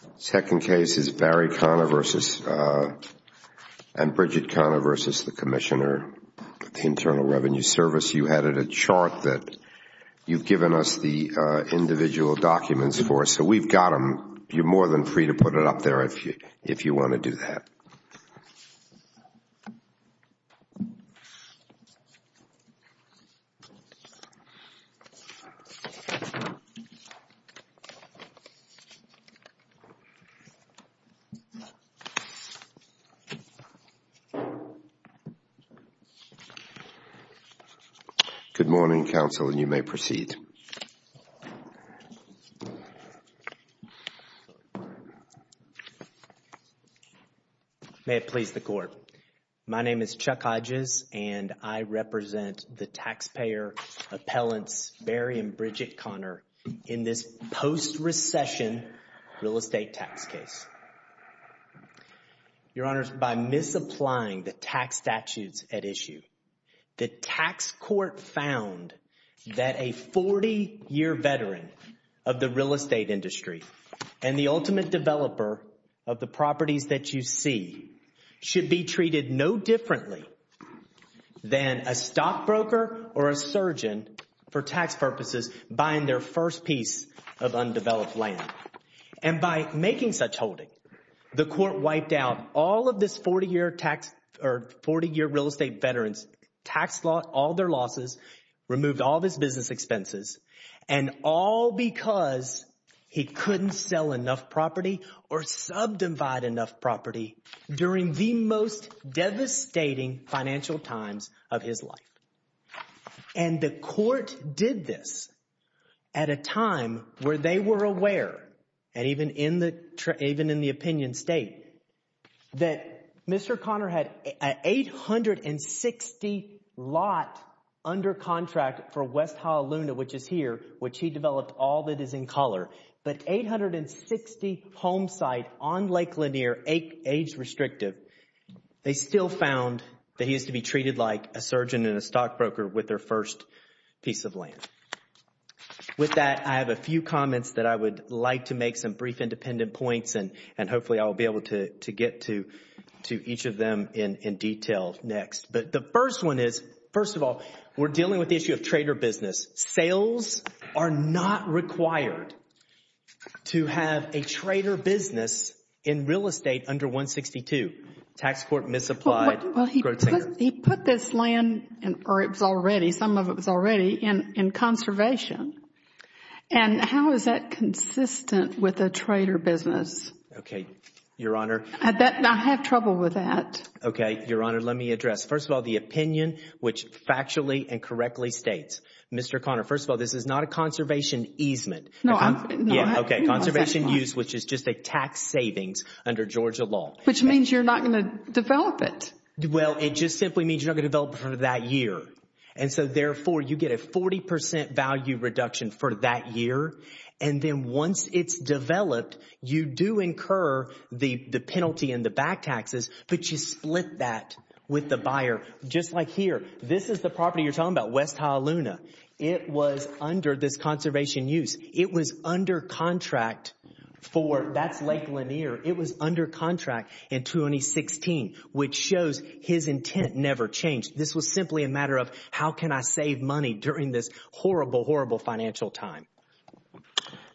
The second case is Barry Conner v. and Bridget Conner v. the Commissioner of the Internal Revenue Service. You added a chart that you've given us the individual documents for, so we've got them. You're more than free to put it up there if you want to do that. Good morning, counsel, and you may proceed. May it please the court, my name is Chuck Hodges, and I represent the taxpayer appellants Barry and Bridget Conner in this post-recession real estate tax case. Your honors, by misapplying the tax statutes at issue, the tax court found that a 40-year veteran of the real estate industry and the ultimate developer of the properties that you see should be treated no differently than a stockbroker or a surgeon, for tax purposes, buying their first piece of undeveloped land. And by making such holding, the court wiped out all of this 40-year tax or 40-year real estate, all because he couldn't sell enough property or subdivide enough property during the most devastating financial times of his life. And the court did this at a time where they were aware, and even in the opinion state, that Mr. Conner had an 860 lot under contract for West Honolulu, which is here, which he developed all that is in color, but 860 home site on Lake Lanier, age restrictive, they still found that he is to be treated like a surgeon and a stockbroker with their first piece of land. With that, I have a few comments that I would like to make, some brief independent points, and hopefully I will be able to get to each of them in detail next. But the first one is, first of all, we're dealing with the issue of trader business. Sales are not required to have a trader business in real estate under 162. Tax court misapplied. Well, he put this land, or it was already, some of it was already, in conservation. And how is that consistent with a trader business? Okay, Your Honor. I have trouble with that. Okay, Your Honor, let me address. First of all, the opinion, which factually and correctly states, Mr. Conner, first of all, this is not a conservation easement. No, I'm not. Okay, conservation use, which is just a tax savings under Georgia law. Which means you're not going to develop it. Well, it just simply means you're not going to develop it for that year. And so, therefore, you get a 40% value reduction for that year, and then once it's developed, you do incur the penalty and the back taxes, but you split that with the buyer. Just like here, this is the property you're talking about, West Hialuna. It was under this conservation use. It was under contract for, that's Lake Lanier, it was under contract in 2016, which shows his intent never changed. This was simply a matter of how can I save money during this horrible, horrible financial time.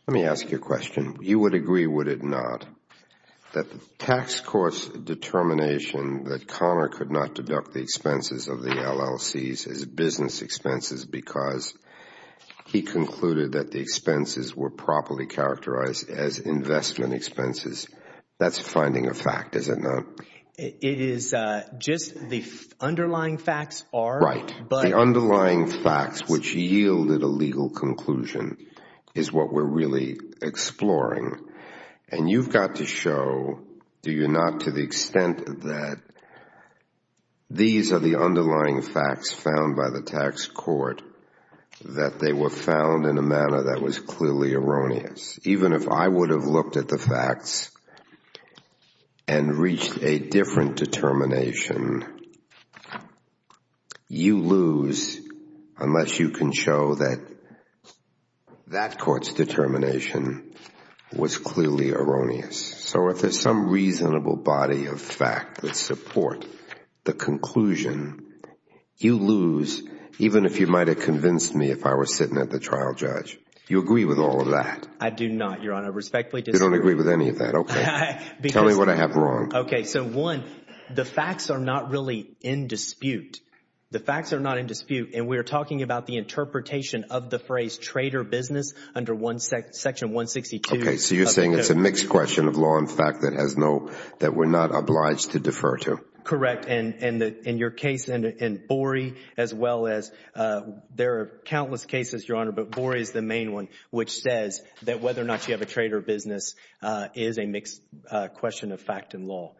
Let me ask you a question. You would agree, would it not, that the tax course determination that Conner could not deduct the expenses of the LLCs as business expenses because he concluded that the expenses were properly characterized as investment expenses, that's finding a fact, is it not? It is just the underlying facts are, but... Right. The underlying facts, which yielded a legal conclusion, is what we're really exploring. And you've got to show, do you not, to the extent that these are the underlying facts found by the tax court, that they were found in a manner that was clearly erroneous. Even if I would have looked at the facts and reached a different determination, you lose unless you can show that that court's determination was clearly erroneous. So if there's some reasonable body of fact that support the conclusion, you lose even if you might have convinced me if I was sitting at the trial judge. You agree with all of that? I do not, Your Honor. I respectfully disagree. You don't agree with any of that. Okay. Tell me what I have wrong. Okay. So one, the facts are not really in dispute. The facts are not in dispute and we're talking about the interpretation of the phrase trader business under Section 162. Okay. So you're saying it's a mixed question of law and fact that we're not obliged to defer to? And in your case, in Borey as well as, there are countless cases, Your Honor, but Borey is the main one which says that whether or not you have a trader business is a mixed question of fact and law.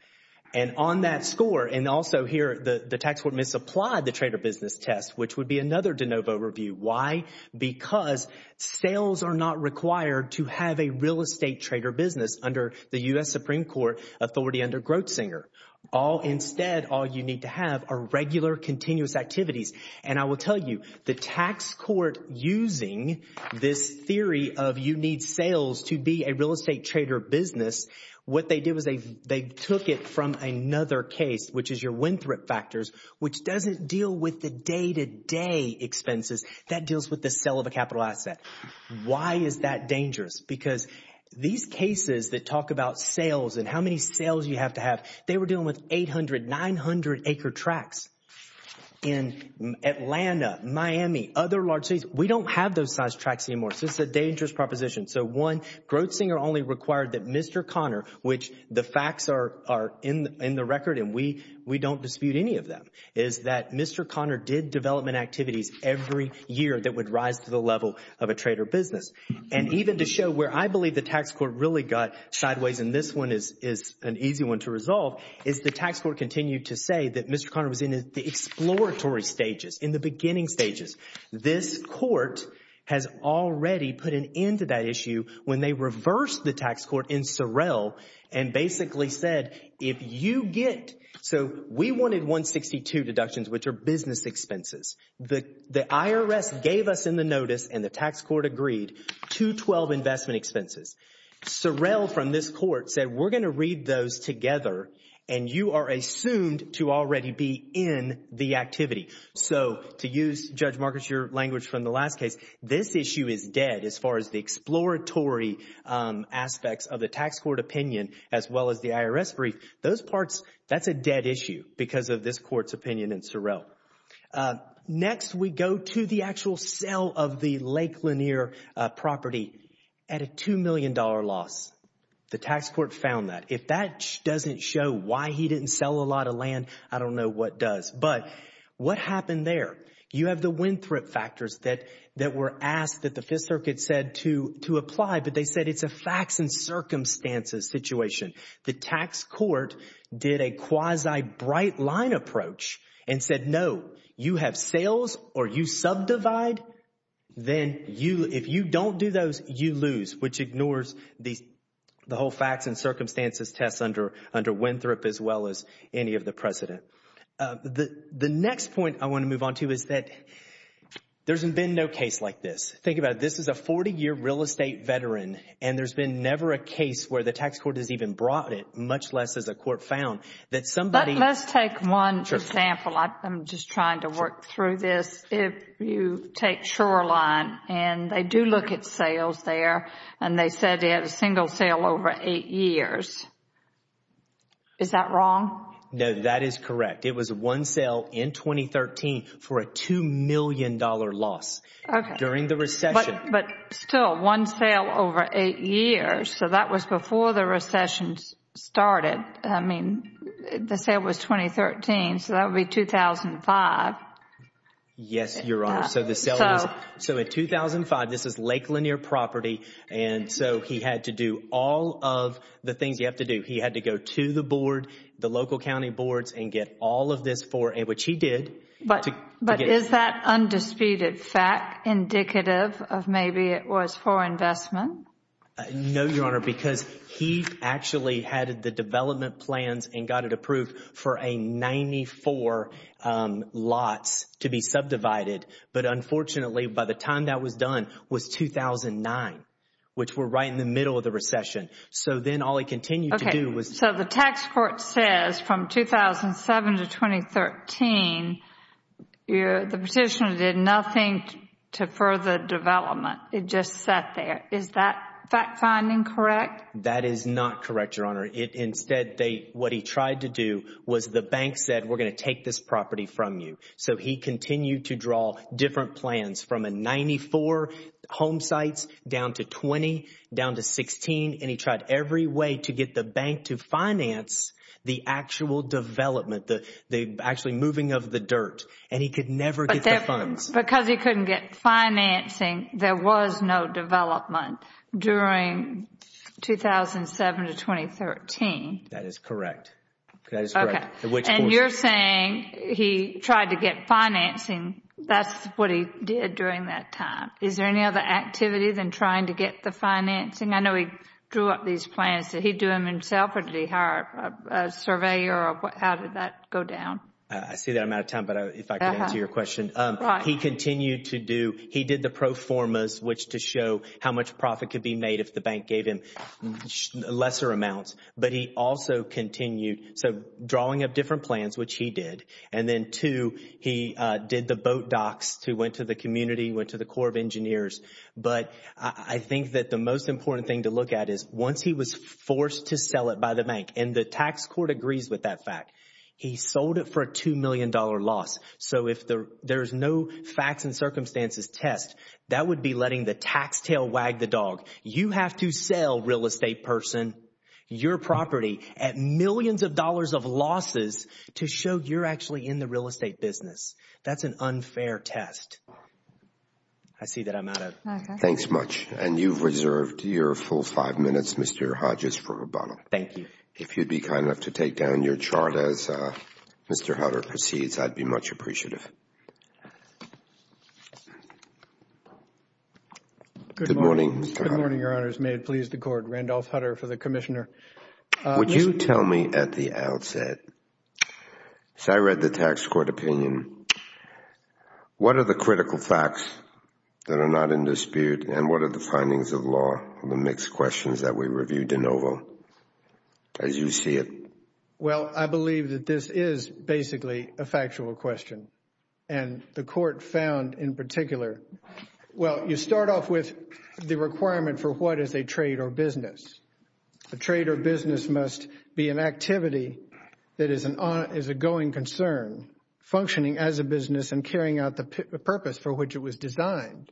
And on that score, and also here, the tax court misapplied the trader business test which would be another de novo review. Why? Because sales are not required to have a real estate trader business under the U.S. Supreme Court authority under Grotzinger. All instead, all you need to have are regular continuous activities. And I will tell you, the tax court using this theory of you need sales to be a real estate trader business, what they did was they took it from another case which is your Winthrop factors which doesn't deal with the day-to-day expenses. That deals with the sale of a capital asset. Why is that dangerous? Because these cases that talk about sales and how many sales you have to have, they were dealing with 800, 900-acre tracks in Atlanta, Miami, other large cities. We don't have those size tracks anymore, so it's a dangerous proposition. So one, Grotzinger only required that Mr. Conner, which the facts are in the record and we don't dispute any of them, is that Mr. Conner did development activities every year that would rise to the level of a trader business. And even to show where I believe the tax court really got sideways, and this one is an easy one to resolve, is the tax court continued to say that Mr. Conner was in the exploratory stages, in the beginning stages. This court has already put an end to that issue when they reversed the tax court in Sorrell and basically said, if you get, so we wanted 162 deductions which are business expenses. The IRS gave us in the notice, and the tax court agreed, 212 investment expenses. Sorrell from this court said, we're going to read those together and you are assumed to already be in the activity. So to use, Judge Marcus, your language from the last case, this issue is dead as far as the exploratory aspects of the tax court opinion as well as the IRS brief. Those parts, that's a dead issue because of this court's opinion in Sorrell. Next, we go to the actual sale of the Lake Lanier property at a $2 million loss. The tax court found that. If that doesn't show why he didn't sell a lot of land, I don't know what does. But what happened there? You have the wind-threat factors that were asked that the Fifth Circuit said to apply, but they said it's a facts and circumstances situation. The tax court did a quasi-bright-line approach and said, no, you have sales or you subdivide, then if you don't do those, you lose, which ignores the whole facts and circumstances test under Winthrop as well as any of the precedent. The next point I want to move on to is that there's been no case like this. Think about it. This is a 40-year real estate veteran and there's been never a case where the tax court has even brought it, much less as a court found, that somebody. Let's take one example. I'm just trying to work through this. If you take Shoreline and they do look at sales there and they said they had a single sale over eight years. Is that wrong? No, that is correct. It was one sale in 2013 for a $2 million loss during the recession. But still, one sale over eight years. So that was before the recession started. I mean, the sale was 2013, so that would be 2005. Yes, Your Honor. So in 2005, this is Lake Lanier property and so he had to do all of the things you have to do. He had to go to the board, the local county boards, and get all of this for it, which he did. But is that undisputed fact indicative of maybe it was for investment? No, Your Honor, because he actually had the development plans and got it approved for a 94 lots to be subdivided. But unfortunately, by the time that was done, it was 2009, which we're right in the middle of the recession. So then all he continued to do was... Okay. So the tax court says from 2007 to 2013, the petitioner did nothing to further development. It just sat there. Is that fact finding correct? That is not correct, Your Honor. Instead, what he tried to do was the bank said, we're going to take this property from you. So he continued to draw different plans from a 94 home sites down to 20, down to 16, and he tried every way to get the bank to finance the actual development, the actually moving of the dirt. And he could never get the funds. Because he couldn't get financing, there was no development during 2007 to 2013. That is correct. That is correct. Okay. And you're saying he tried to get financing, that's what he did during that time. Is there any other activity than trying to get the financing? I know he drew up these plans. Did he do them himself or did he hire a surveyor or how did that go down? I see that I'm out of time, but if I could answer your question. He continued to do, he did the pro formas, which to show how much profit could be made if the bank gave him lesser amounts. But he also continued, so drawing up different plans, which he did. And then two, he did the boat docks to went to the community, went to the Corps of Engineers. But I think that the most important thing to look at is once he was forced to sell it by the bank, and the tax court agrees with that fact. He sold it for a $2 million loss. So if there is no facts and circumstances test, that would be letting the tax tail wag the dog. You have to sell, real estate person, your property at millions of dollars of losses to show you're actually in the real estate business. That's an unfair test. I see that I'm out of time. Thanks much. And you've reserved your full five minutes, Mr. Hodges, for rebuttal. Thank you. If you'd be kind enough to take down your chart as Mr. Hutter proceeds, I'd be much appreciative. Good morning, Mr. Hutter. Good morning, Your Honors. May it please the Court. Randolph Hutter for the Commissioner. Would you tell me at the outset, as I read the tax court opinion, what are the critical facts that are not in dispute, and what are the findings of law, the mixed questions that we reviewed in Oval? As you see it. Well, I believe that this is basically a factual question. And the Court found in particular, well, you start off with the requirement for what is a trade or business. A trade or business must be an activity that is an ongoing concern, functioning as a business and carrying out the purpose for which it was designed.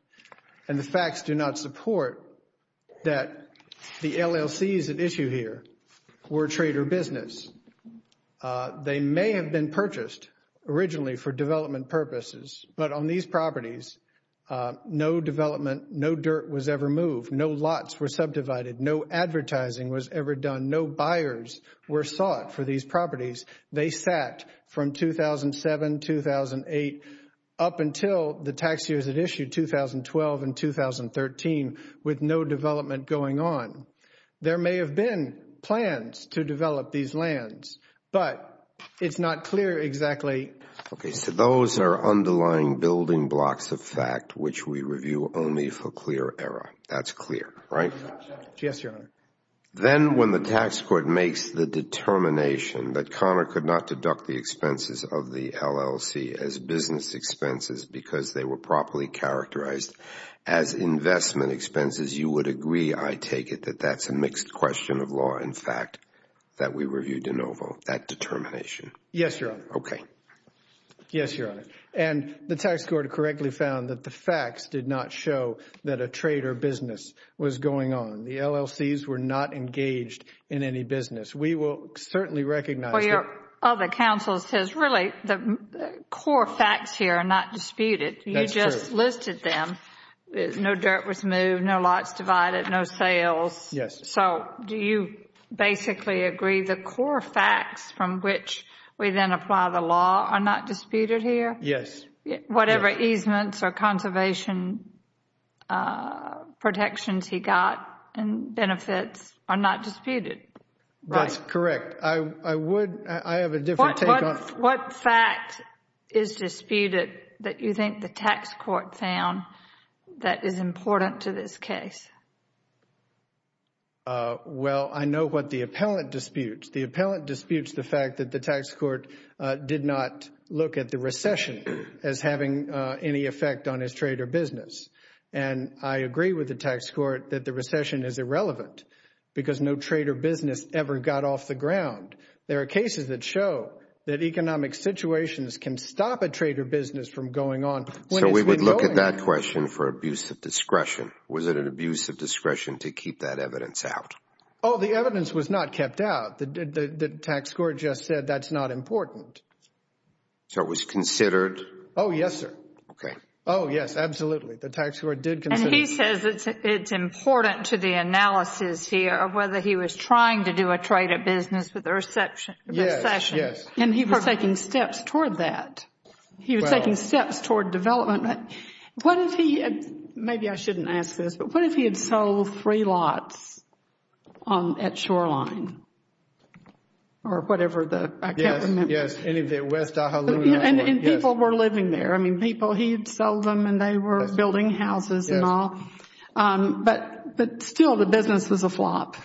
And the facts do not support that the LLCs at issue here were a trade or business. They may have been purchased originally for development purposes, but on these properties, no development, no dirt was ever moved. No lots were subdivided. No advertising was ever done. No buyers were sought for these properties. They sat from 2007, 2008, up until the tax years at issue, 2012 and 2013, with no development going on. There may have been plans to develop these lands, but it's not clear exactly... Okay. So those are underlying building blocks of fact, which we review only for clear error. That's clear, right? Yes, Your Honor. Then when the tax court makes the determination that Conner could not deduct the expenses of the LLC as business expenses because they were properly characterized as investment expenses, you would agree, I take it, that that's a mixed question of law, in fact, that we review de novo, that determination? Yes, Your Honor. Okay. Yes, Your Honor. And the tax court correctly found that the facts did not show that a trade or business was going on. The LLCs were not engaged in any business. We will certainly recognize... Well, your other counsel says really the core facts here are not disputed. That's true. You just listed them. No dirt was moved. No lots divided. No sales. Yes. So do you basically agree the core facts from which we then apply the law are not disputed here? Yes. Whatever easements or conservation protections he got and benefits are not disputed, right? That's correct. I would... I have a different take on... What fact is disputed that you think the tax court found that is important to this case? Well, I know what the appellant disputes. The appellant disputes the fact that the tax court did not look at the recession as having any effect on his trade or business. And I agree with the tax court that the recession is irrelevant because no trade or business ever got off the ground. There are cases that show that economic situations can stop a trade or business from going on... So we would look at that question for abuse of discretion. Was it an abuse of discretion to keep that evidence out? Oh, the evidence was not kept out. The tax court just said that's not important. So it was considered... Oh, yes, sir. Okay. Oh, yes, absolutely. The tax court did consider... And he says it's important to the analysis here of whether he was trying to do a trade or business with the recession. Yes. Yes. And he was taking steps toward that. He was taking steps toward development. What if he had... maybe I shouldn't ask this, but what if he had sold three lots at or whatever the... I can't remember. Yes. Yes. Any of the West Daha Loona... And people were living there. I mean, people, he'd sell them and they were building houses and all. But still, the business was a flop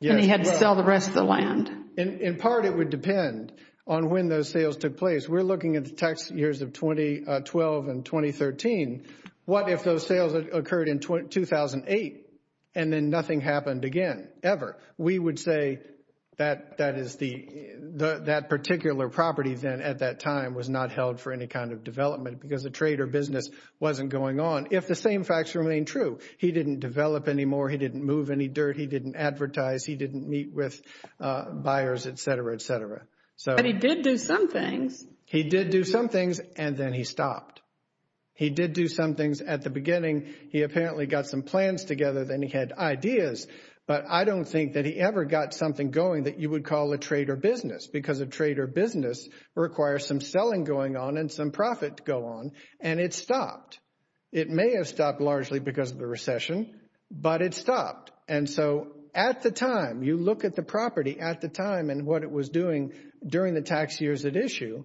and he had to sell the rest of the land. In part, it would depend on when those sales took place. We're looking at the tax years of 2012 and 2013. What if those sales occurred in 2008 and then nothing happened again ever? We would say that that particular property then at that time was not held for any kind of development because a trade or business wasn't going on if the same facts remain true. He didn't develop anymore. He didn't move any dirt. He didn't advertise. He didn't meet with buyers, et cetera, et cetera. But he did do some things. He did do some things and then he stopped. He did do some things at the beginning. He apparently got some plans together, then he had ideas. But I don't think that he ever got something going that you would call a trade or business because a trade or business requires some selling going on and some profit to go on. And it stopped. It may have stopped largely because of the recession, but it stopped. And so at the time, you look at the property at the time and what it was doing during the tax years at issue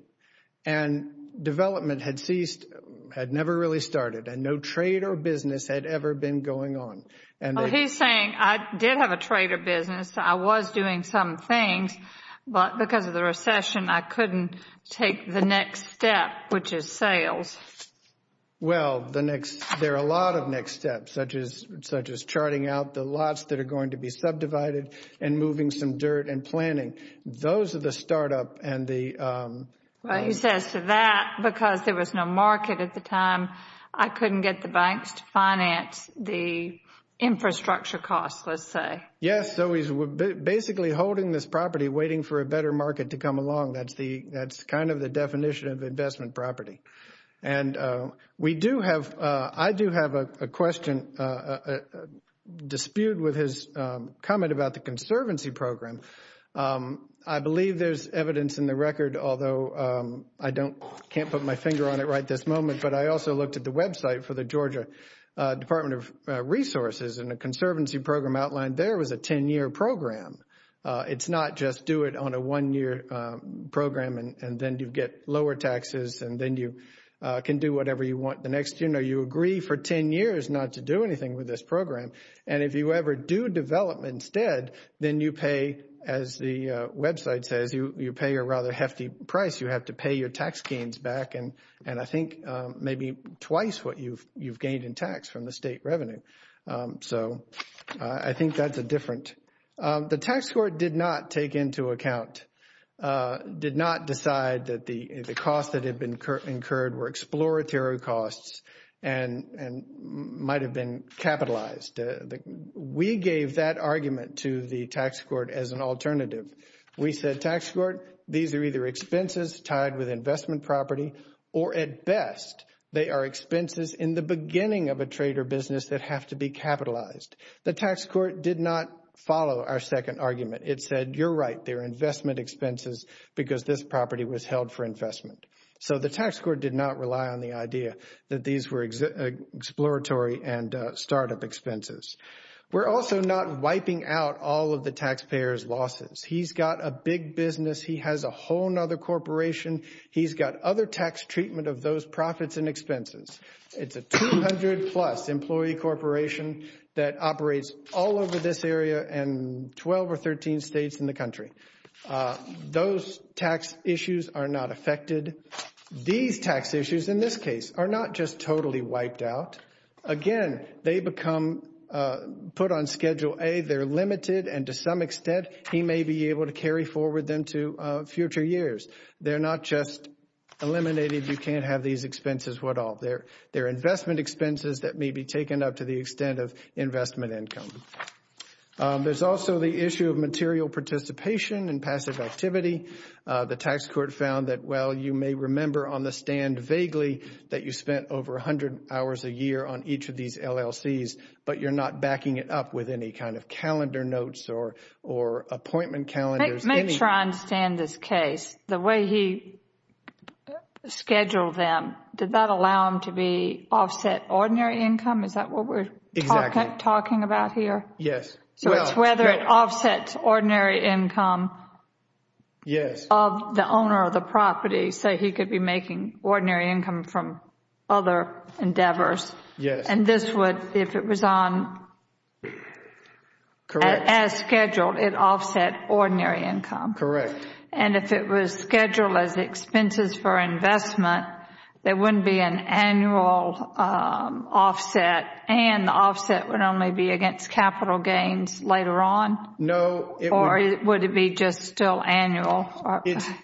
and development had ceased, had never really started. And no trade or business had ever been going on. And he's saying, I did have a trade or business. I was doing some things, but because of the recession, I couldn't take the next step, which is sales. Well, the next there are a lot of next steps, such as such as charting out the lots that are going to be subdivided and moving some dirt and planning. Those are the startup. And he says to that, because there was no market at the time, I couldn't get the banks to finance the infrastructure costs, let's say. Yes. So he's basically holding this property, waiting for a better market to come along. That's the that's kind of the definition of investment property. And we do have I do have a question, a dispute with his comment about the conservancy program. I believe there's evidence in the record, although I don't can't put my finger on it right this moment. But I also looked at the website for the Georgia Department of Resources and a conservancy program outlined there was a 10 year program. It's not just do it on a one year program and then you get lower taxes and then you can do whatever you want. The next, you know, you agree for 10 years not to do anything with this program. And if you ever do develop instead, then you pay, as the website says, you pay a rather hefty price. You have to pay your tax gains back. And and I think maybe twice what you've you've gained in tax from the state revenue. So I think that's a different the tax court did not take into account, did not decide that the cost that had been incurred were exploratory costs and and might have been capitalized. We gave that argument to the tax court as an alternative. We said tax court, these are either expenses tied with investment property or at best they are expenses in the beginning of a trade or business that have to be capitalized. The tax court did not follow our second argument. It said, you're right, they're investment expenses because this property was held for investment. So the tax court did not rely on the idea that these were exploratory and startup expenses. We're also not wiping out all of the taxpayers losses. He's got a big business. He has a whole nother corporation. He's got other tax treatment of those profits and expenses. It's a 200 plus employee corporation that operates all over this area and 12 or 13 states in the country. Those tax issues are not affected. These tax issues in this case are not just totally wiped out again. They become put on Schedule A. They're limited and to some extent he may be able to carry forward them to future years. They're not just eliminated. You can't have these expenses. What are their investment expenses that may be taken up to the extent of investment income? There's also the issue of material participation and passive activity. The tax court found that, well, you may remember on the stand vaguely that you spent over 100 hours a year on each of these LLCs, but you're not backing it up with any kind of calendar notes or or appointment calendars. Make sure I understand this case. The way he scheduled them, did that allow him to be offset ordinary income? Is that what we're talking about here? Yes. So it's whether it offsets ordinary income. Yes. Of the owner of the property. So he could be making ordinary income from other endeavors. Yes. And this would, if it was on as scheduled, it offset ordinary income. Correct. And if it was scheduled as expenses for investment, there wouldn't be an annual offset and the offset would only be against capital gains later on. No. Or would it be just still annual?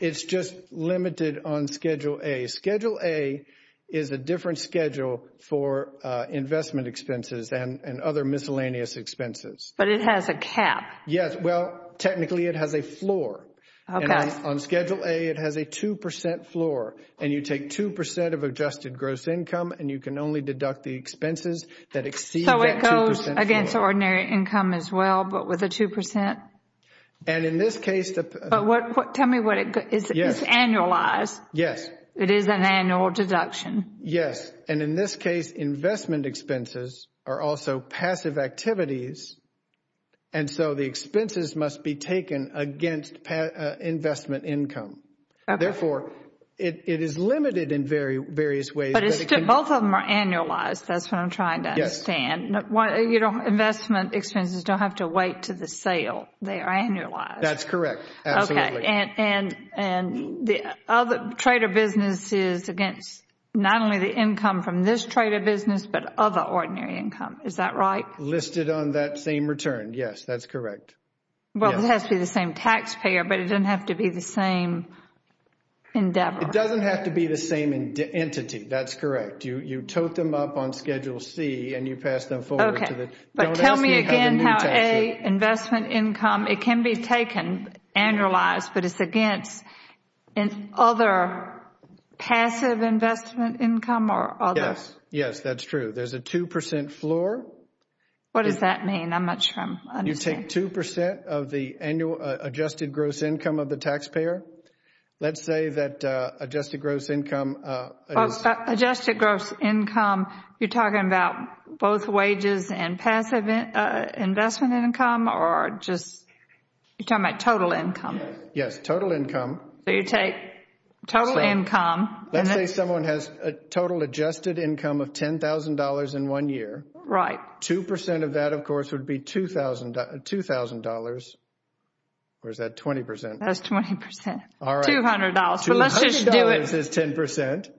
It's just limited on Schedule A. Schedule A is a different schedule for investment expenses and other miscellaneous expenses. But it has a cap. Yes. Well, technically it has a floor. On Schedule A, it has a 2 percent floor. And you take 2 percent of adjusted gross income and you can only deduct the expenses that exceed that 2 percent floor. So it goes against ordinary income as well, but with a 2 percent? And in this case, the. What? Tell me what it is. Yes. Annualized. Yes. It is an annual deduction. Yes. And in this case, investment expenses are also passive activities. And so the expenses must be taken against investment income. Therefore, it is limited in very various ways. But it's still both of them are annualized. That's what I'm trying to understand. Investment expenses don't have to wait to the sale. They are annualized. That's correct. Absolutely. And the other trader business is against not only the income from this trader business, but other ordinary income. Is that right? Listed on that same return. Yes, that's correct. Well, it has to be the same taxpayer, but it doesn't have to be the same endeavor. It doesn't have to be the same entity. That's correct. You tote them up on Schedule C and you pass them forward. OK, but tell me again how a investment income, it can be taken annualized, but it's against other passive investment income or others. Yes, that's true. There's a 2 percent floor. What does that mean? I'm not sure I understand. You take 2 percent of the annual adjusted gross income of the taxpayer. Let's say that adjusted gross income. Adjusted gross income. You're talking about both wages and passive investment income or just you're talking about total income. Yes, total income. So you take total income. Let's say someone has a total adjusted income of ten thousand dollars in one year. Right. Two percent of that, of course, would be two thousand dollars. Where's that? Twenty percent. That's twenty percent. All right. Two hundred dollars. Two hundred dollars is ten percent.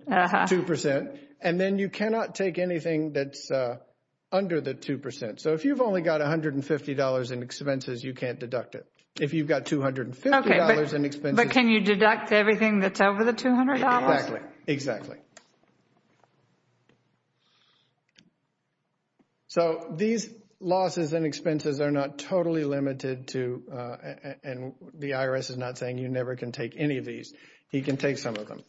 Two percent. And then you cannot take anything that's under the two percent. So if you've only got one hundred and fifty dollars in expenses, you can't deduct it. If you've got two hundred and fifty dollars in expenses. But can you deduct everything that's over the two hundred dollars? Exactly, exactly. So these losses and expenses are not totally limited to and the IRS is not saying you never can take any of these. He can take some of them.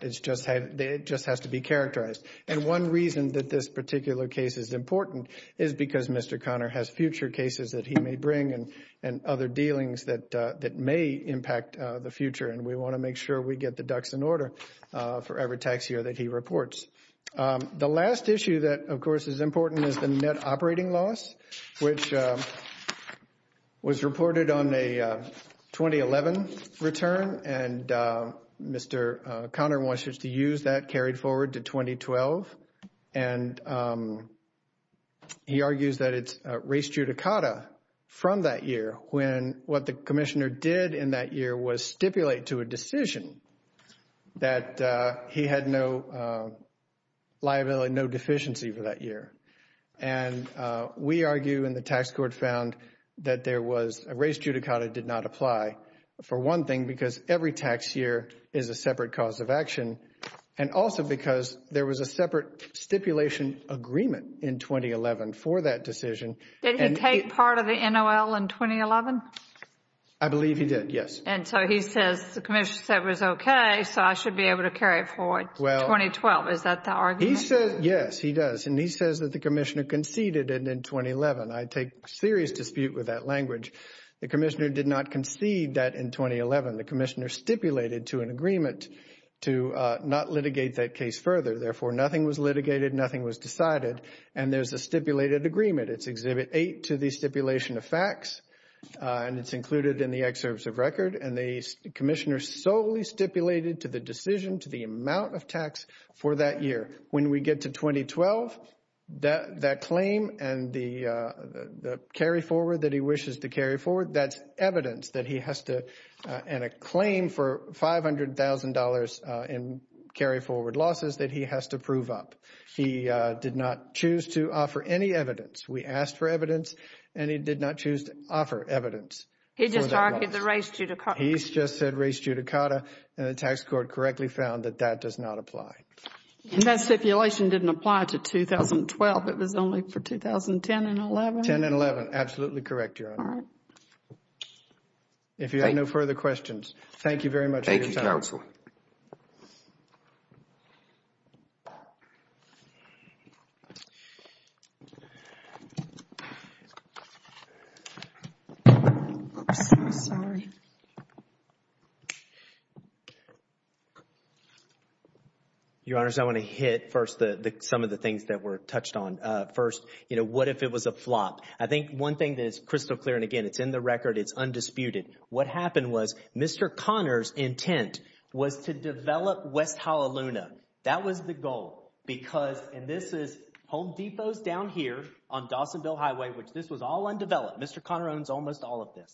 It's just that it just has to be characterized. And one reason that this particular case is important is because Mr. Conner has future cases that he may bring and and other dealings that that may impact the future. And we want to make sure we get the ducks in order for every tax year that he reports. The last issue that, of course, is important is the net operating loss, which was reported on a 2011 return. And Mr. Conner wants us to use that carried forward to 2012. And he argues that it's res judicata from that year when what the commissioner did in that year was stipulate to a decision that he had no liability, no deficiency for that year. And we argue and the tax court found that there was a res judicata did not apply for one thing, because every tax year is a separate cause of action and also because there was a separate stipulation agreement in 2011 for that decision. Did he take part of the NOL in 2011? I believe he did, yes. And so he says the commissioner said it was OK, so I should be able to carry it forward to 2012. Is that the argument? He says, yes, he does. And he says that the commissioner conceded it in 2011. I take serious dispute with that language. The commissioner did not concede that in 2011. The commissioner stipulated to an agreement to not litigate that case further. Therefore, nothing was litigated, nothing was decided. And there's a stipulated agreement. It's Exhibit 8 to the stipulation of facts, and it's included in the excerpts of record. And the commissioner solely stipulated to the decision, to the amount of tax for that year. When we get to 2012, that claim and the carry forward that he wishes to carry forward, that's evidence that he has to, and a claim for $500,000 in carry forward losses that he has to prove up. He did not choose to offer any evidence. We asked for evidence and he did not choose to offer evidence. He just argued the race judicata. He just said race judicata. And the tax court correctly found that that does not apply. And that stipulation didn't apply to 2012. It was only for 2010 and 11. 10 and 11. Absolutely correct, Your Honor. If you have no further questions, thank you very much. Thank you, counsel. Your Honor, I want to hit first some of the things that were touched on first. You know, what if it was a flop? I think one thing that is crystal clear, and again, it's in the record. It's undisputed. What happened was Mr. Connor's intent was to develop West Honolulu. That was the goal because and this is Home Depot's down here on Dawsonville Highway, which this was all undeveloped. Mr. Connor owns almost all of this.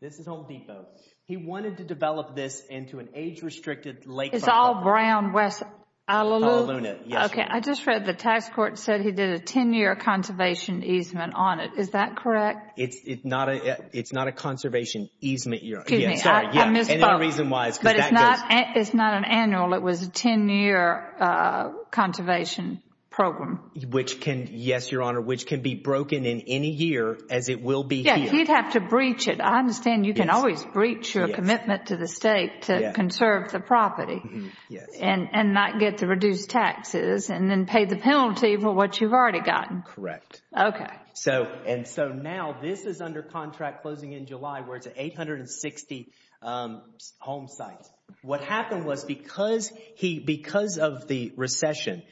This is Home Depot. He wanted to develop this into an age restricted lake. It's all Brown, West Honolulu. OK. I just read the tax court said he did a 10 year conservation easement on it. Is that correct? It's not a it's not a conservation easement, Your Honor. Excuse me, I misspoke. And the reason why is because that goes. It's not an annual. It was a 10 year conservation program. Which can, yes, Your Honor, which can be broken in any year as it will be here. Yeah, he'd have to breach it. I understand you can always breach your commitment to the state to conserve the property. Yes. And not get the reduced taxes and then pay the penalty for what you've already gotten. Correct. OK. So and so now this is under contract closing in July where it's 860 home sites. What happened was because he because of the recession,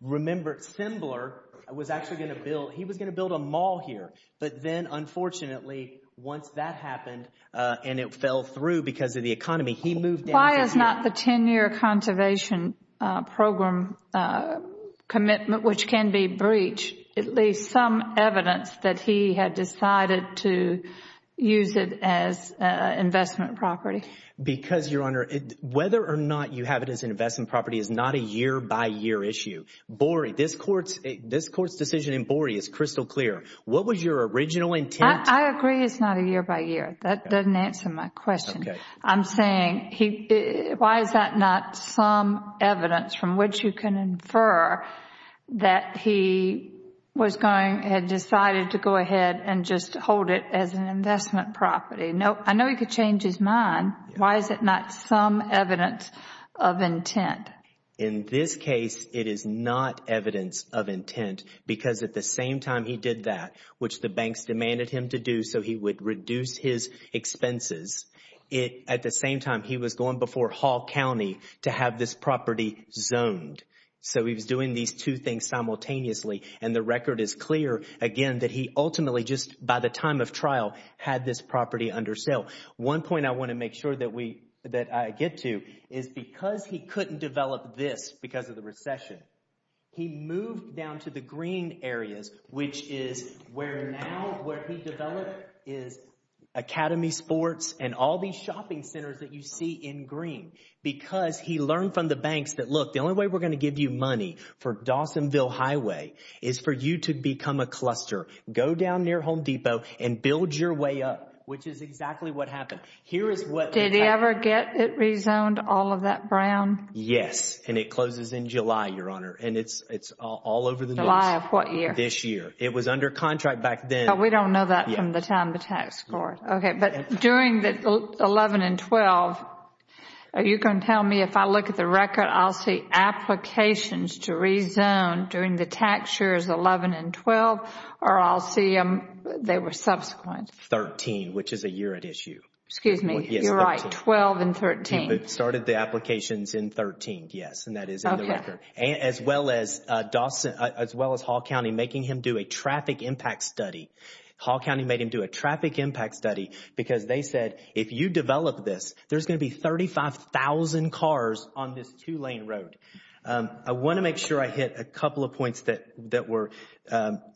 remember, Sembler was actually going to build he was going to build a mall here. But then, unfortunately, once that happened and it fell through because of the economy, he moved. Why is not the 10 year conservation program commitment, which can be breached, at least some evidence that he had decided to use it as investment property? Because, Your Honor, whether or not you have it as an investment property is not a year by year issue. Borey, this court's this court's decision in Borey is crystal clear. What was your original intent? I agree. It's not a year by year. That doesn't answer my question. I'm saying he why is that not some evidence from which you can infer that he was going had decided to go ahead and just hold it as an investment property? No, I know he could change his mind. Why is it not some evidence of intent? In this case, it is not evidence of intent because at the same time he did that, which the banks demanded him to do so, he would reduce his expenses. It at the same time he was going before Hall County to have this property zoned. So he was doing these two things simultaneously. And the record is clear again that he ultimately just by the time of trial had this property under sale. One point I want to make sure that we that I get to is because he couldn't develop this because of the recession, he moved down to the green areas, which is where now where he developed is Academy Sports. And all these shopping centers that you see in green because he learned from the banks that, look, the only way we're going to give you money for Dawsonville Highway is for you to become a cluster. Go down near Home Depot and build your way up, which is exactly what happened. Here is what did he ever get? It rezoned all of that brown. Yes. And it closes in July, Your Honor. And it's it's all over the line of what year this year it was under contract back then. We don't know that from the time the tax court. OK, but during the 11 and 12, you can tell me if I look at the record, I'll see applications to rezone during the tax years, 11 and 12, or I'll see them. They were subsequent 13, which is a year at issue. Excuse me. You're right. 12 and 13 started the applications in 13. Yes. And that is as well as Dawson, as well as Hall County, making him do a traffic impact study. Hall County made him do a traffic impact study because they said, if you develop this, there's going to be thirty five thousand cars on this two lane road. I want to make sure I hit a couple of points that that were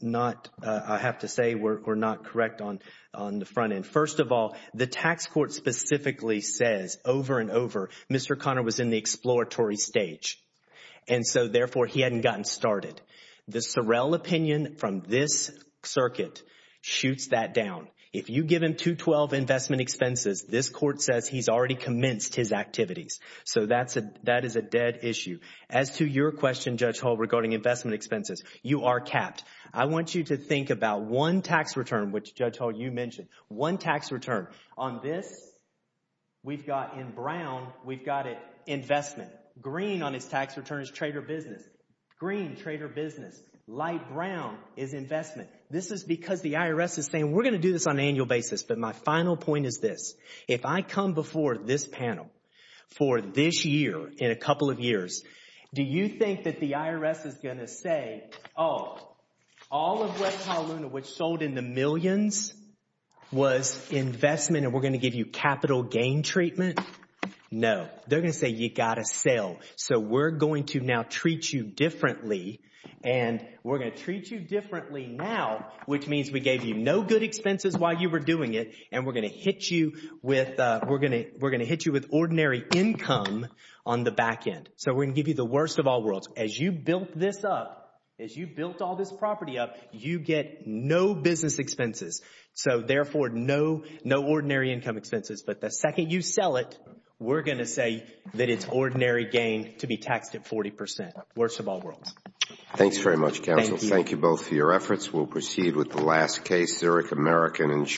not, I have to say, were not correct on on the front end. First of all, the tax court specifically says over and over, Mr. Conner was in the exploratory stage and so therefore he hadn't gotten started. The Sorrell opinion from this circuit shoots that down. If you give him to twelve investment expenses, this court says he's already commenced his activities. So that's a that is a dead issue. As to your question, Judge Hall, regarding investment expenses, you are capped. I want you to think about one tax return, which, Judge Hall, you mentioned one tax return on this. We've got in Brown, we've got it investment green on his tax returns. Trader business, green trader business, light brown is investment. This is because the IRS is saying we're going to do this on an annual basis. But my final point is this. If I come before this panel for this year, in a couple of years, do you think that the IRS is going to say, oh, all of West Honolulu, which sold in the millions, was investment and we're going to give you capital gain treatment? No, they're going to say you got to sell. So we're going to now treat you differently and we're going to treat you differently now, which means we gave you no good expenses while you were doing it. And we're going to hit you with we're going to we're going to hit you with ordinary income on the back end. So we're going to give you the worst of all worlds as you built this up, as you built all this property up, you get no business expenses. So therefore, no, no ordinary income expenses. But the second you sell it, we're going to say that it's ordinary gain to be taxed at 40 percent. Worst of all worlds. Thanks very much, counsel. Thank you both for your efforts. We'll proceed with the last case, Zurich American Insurance.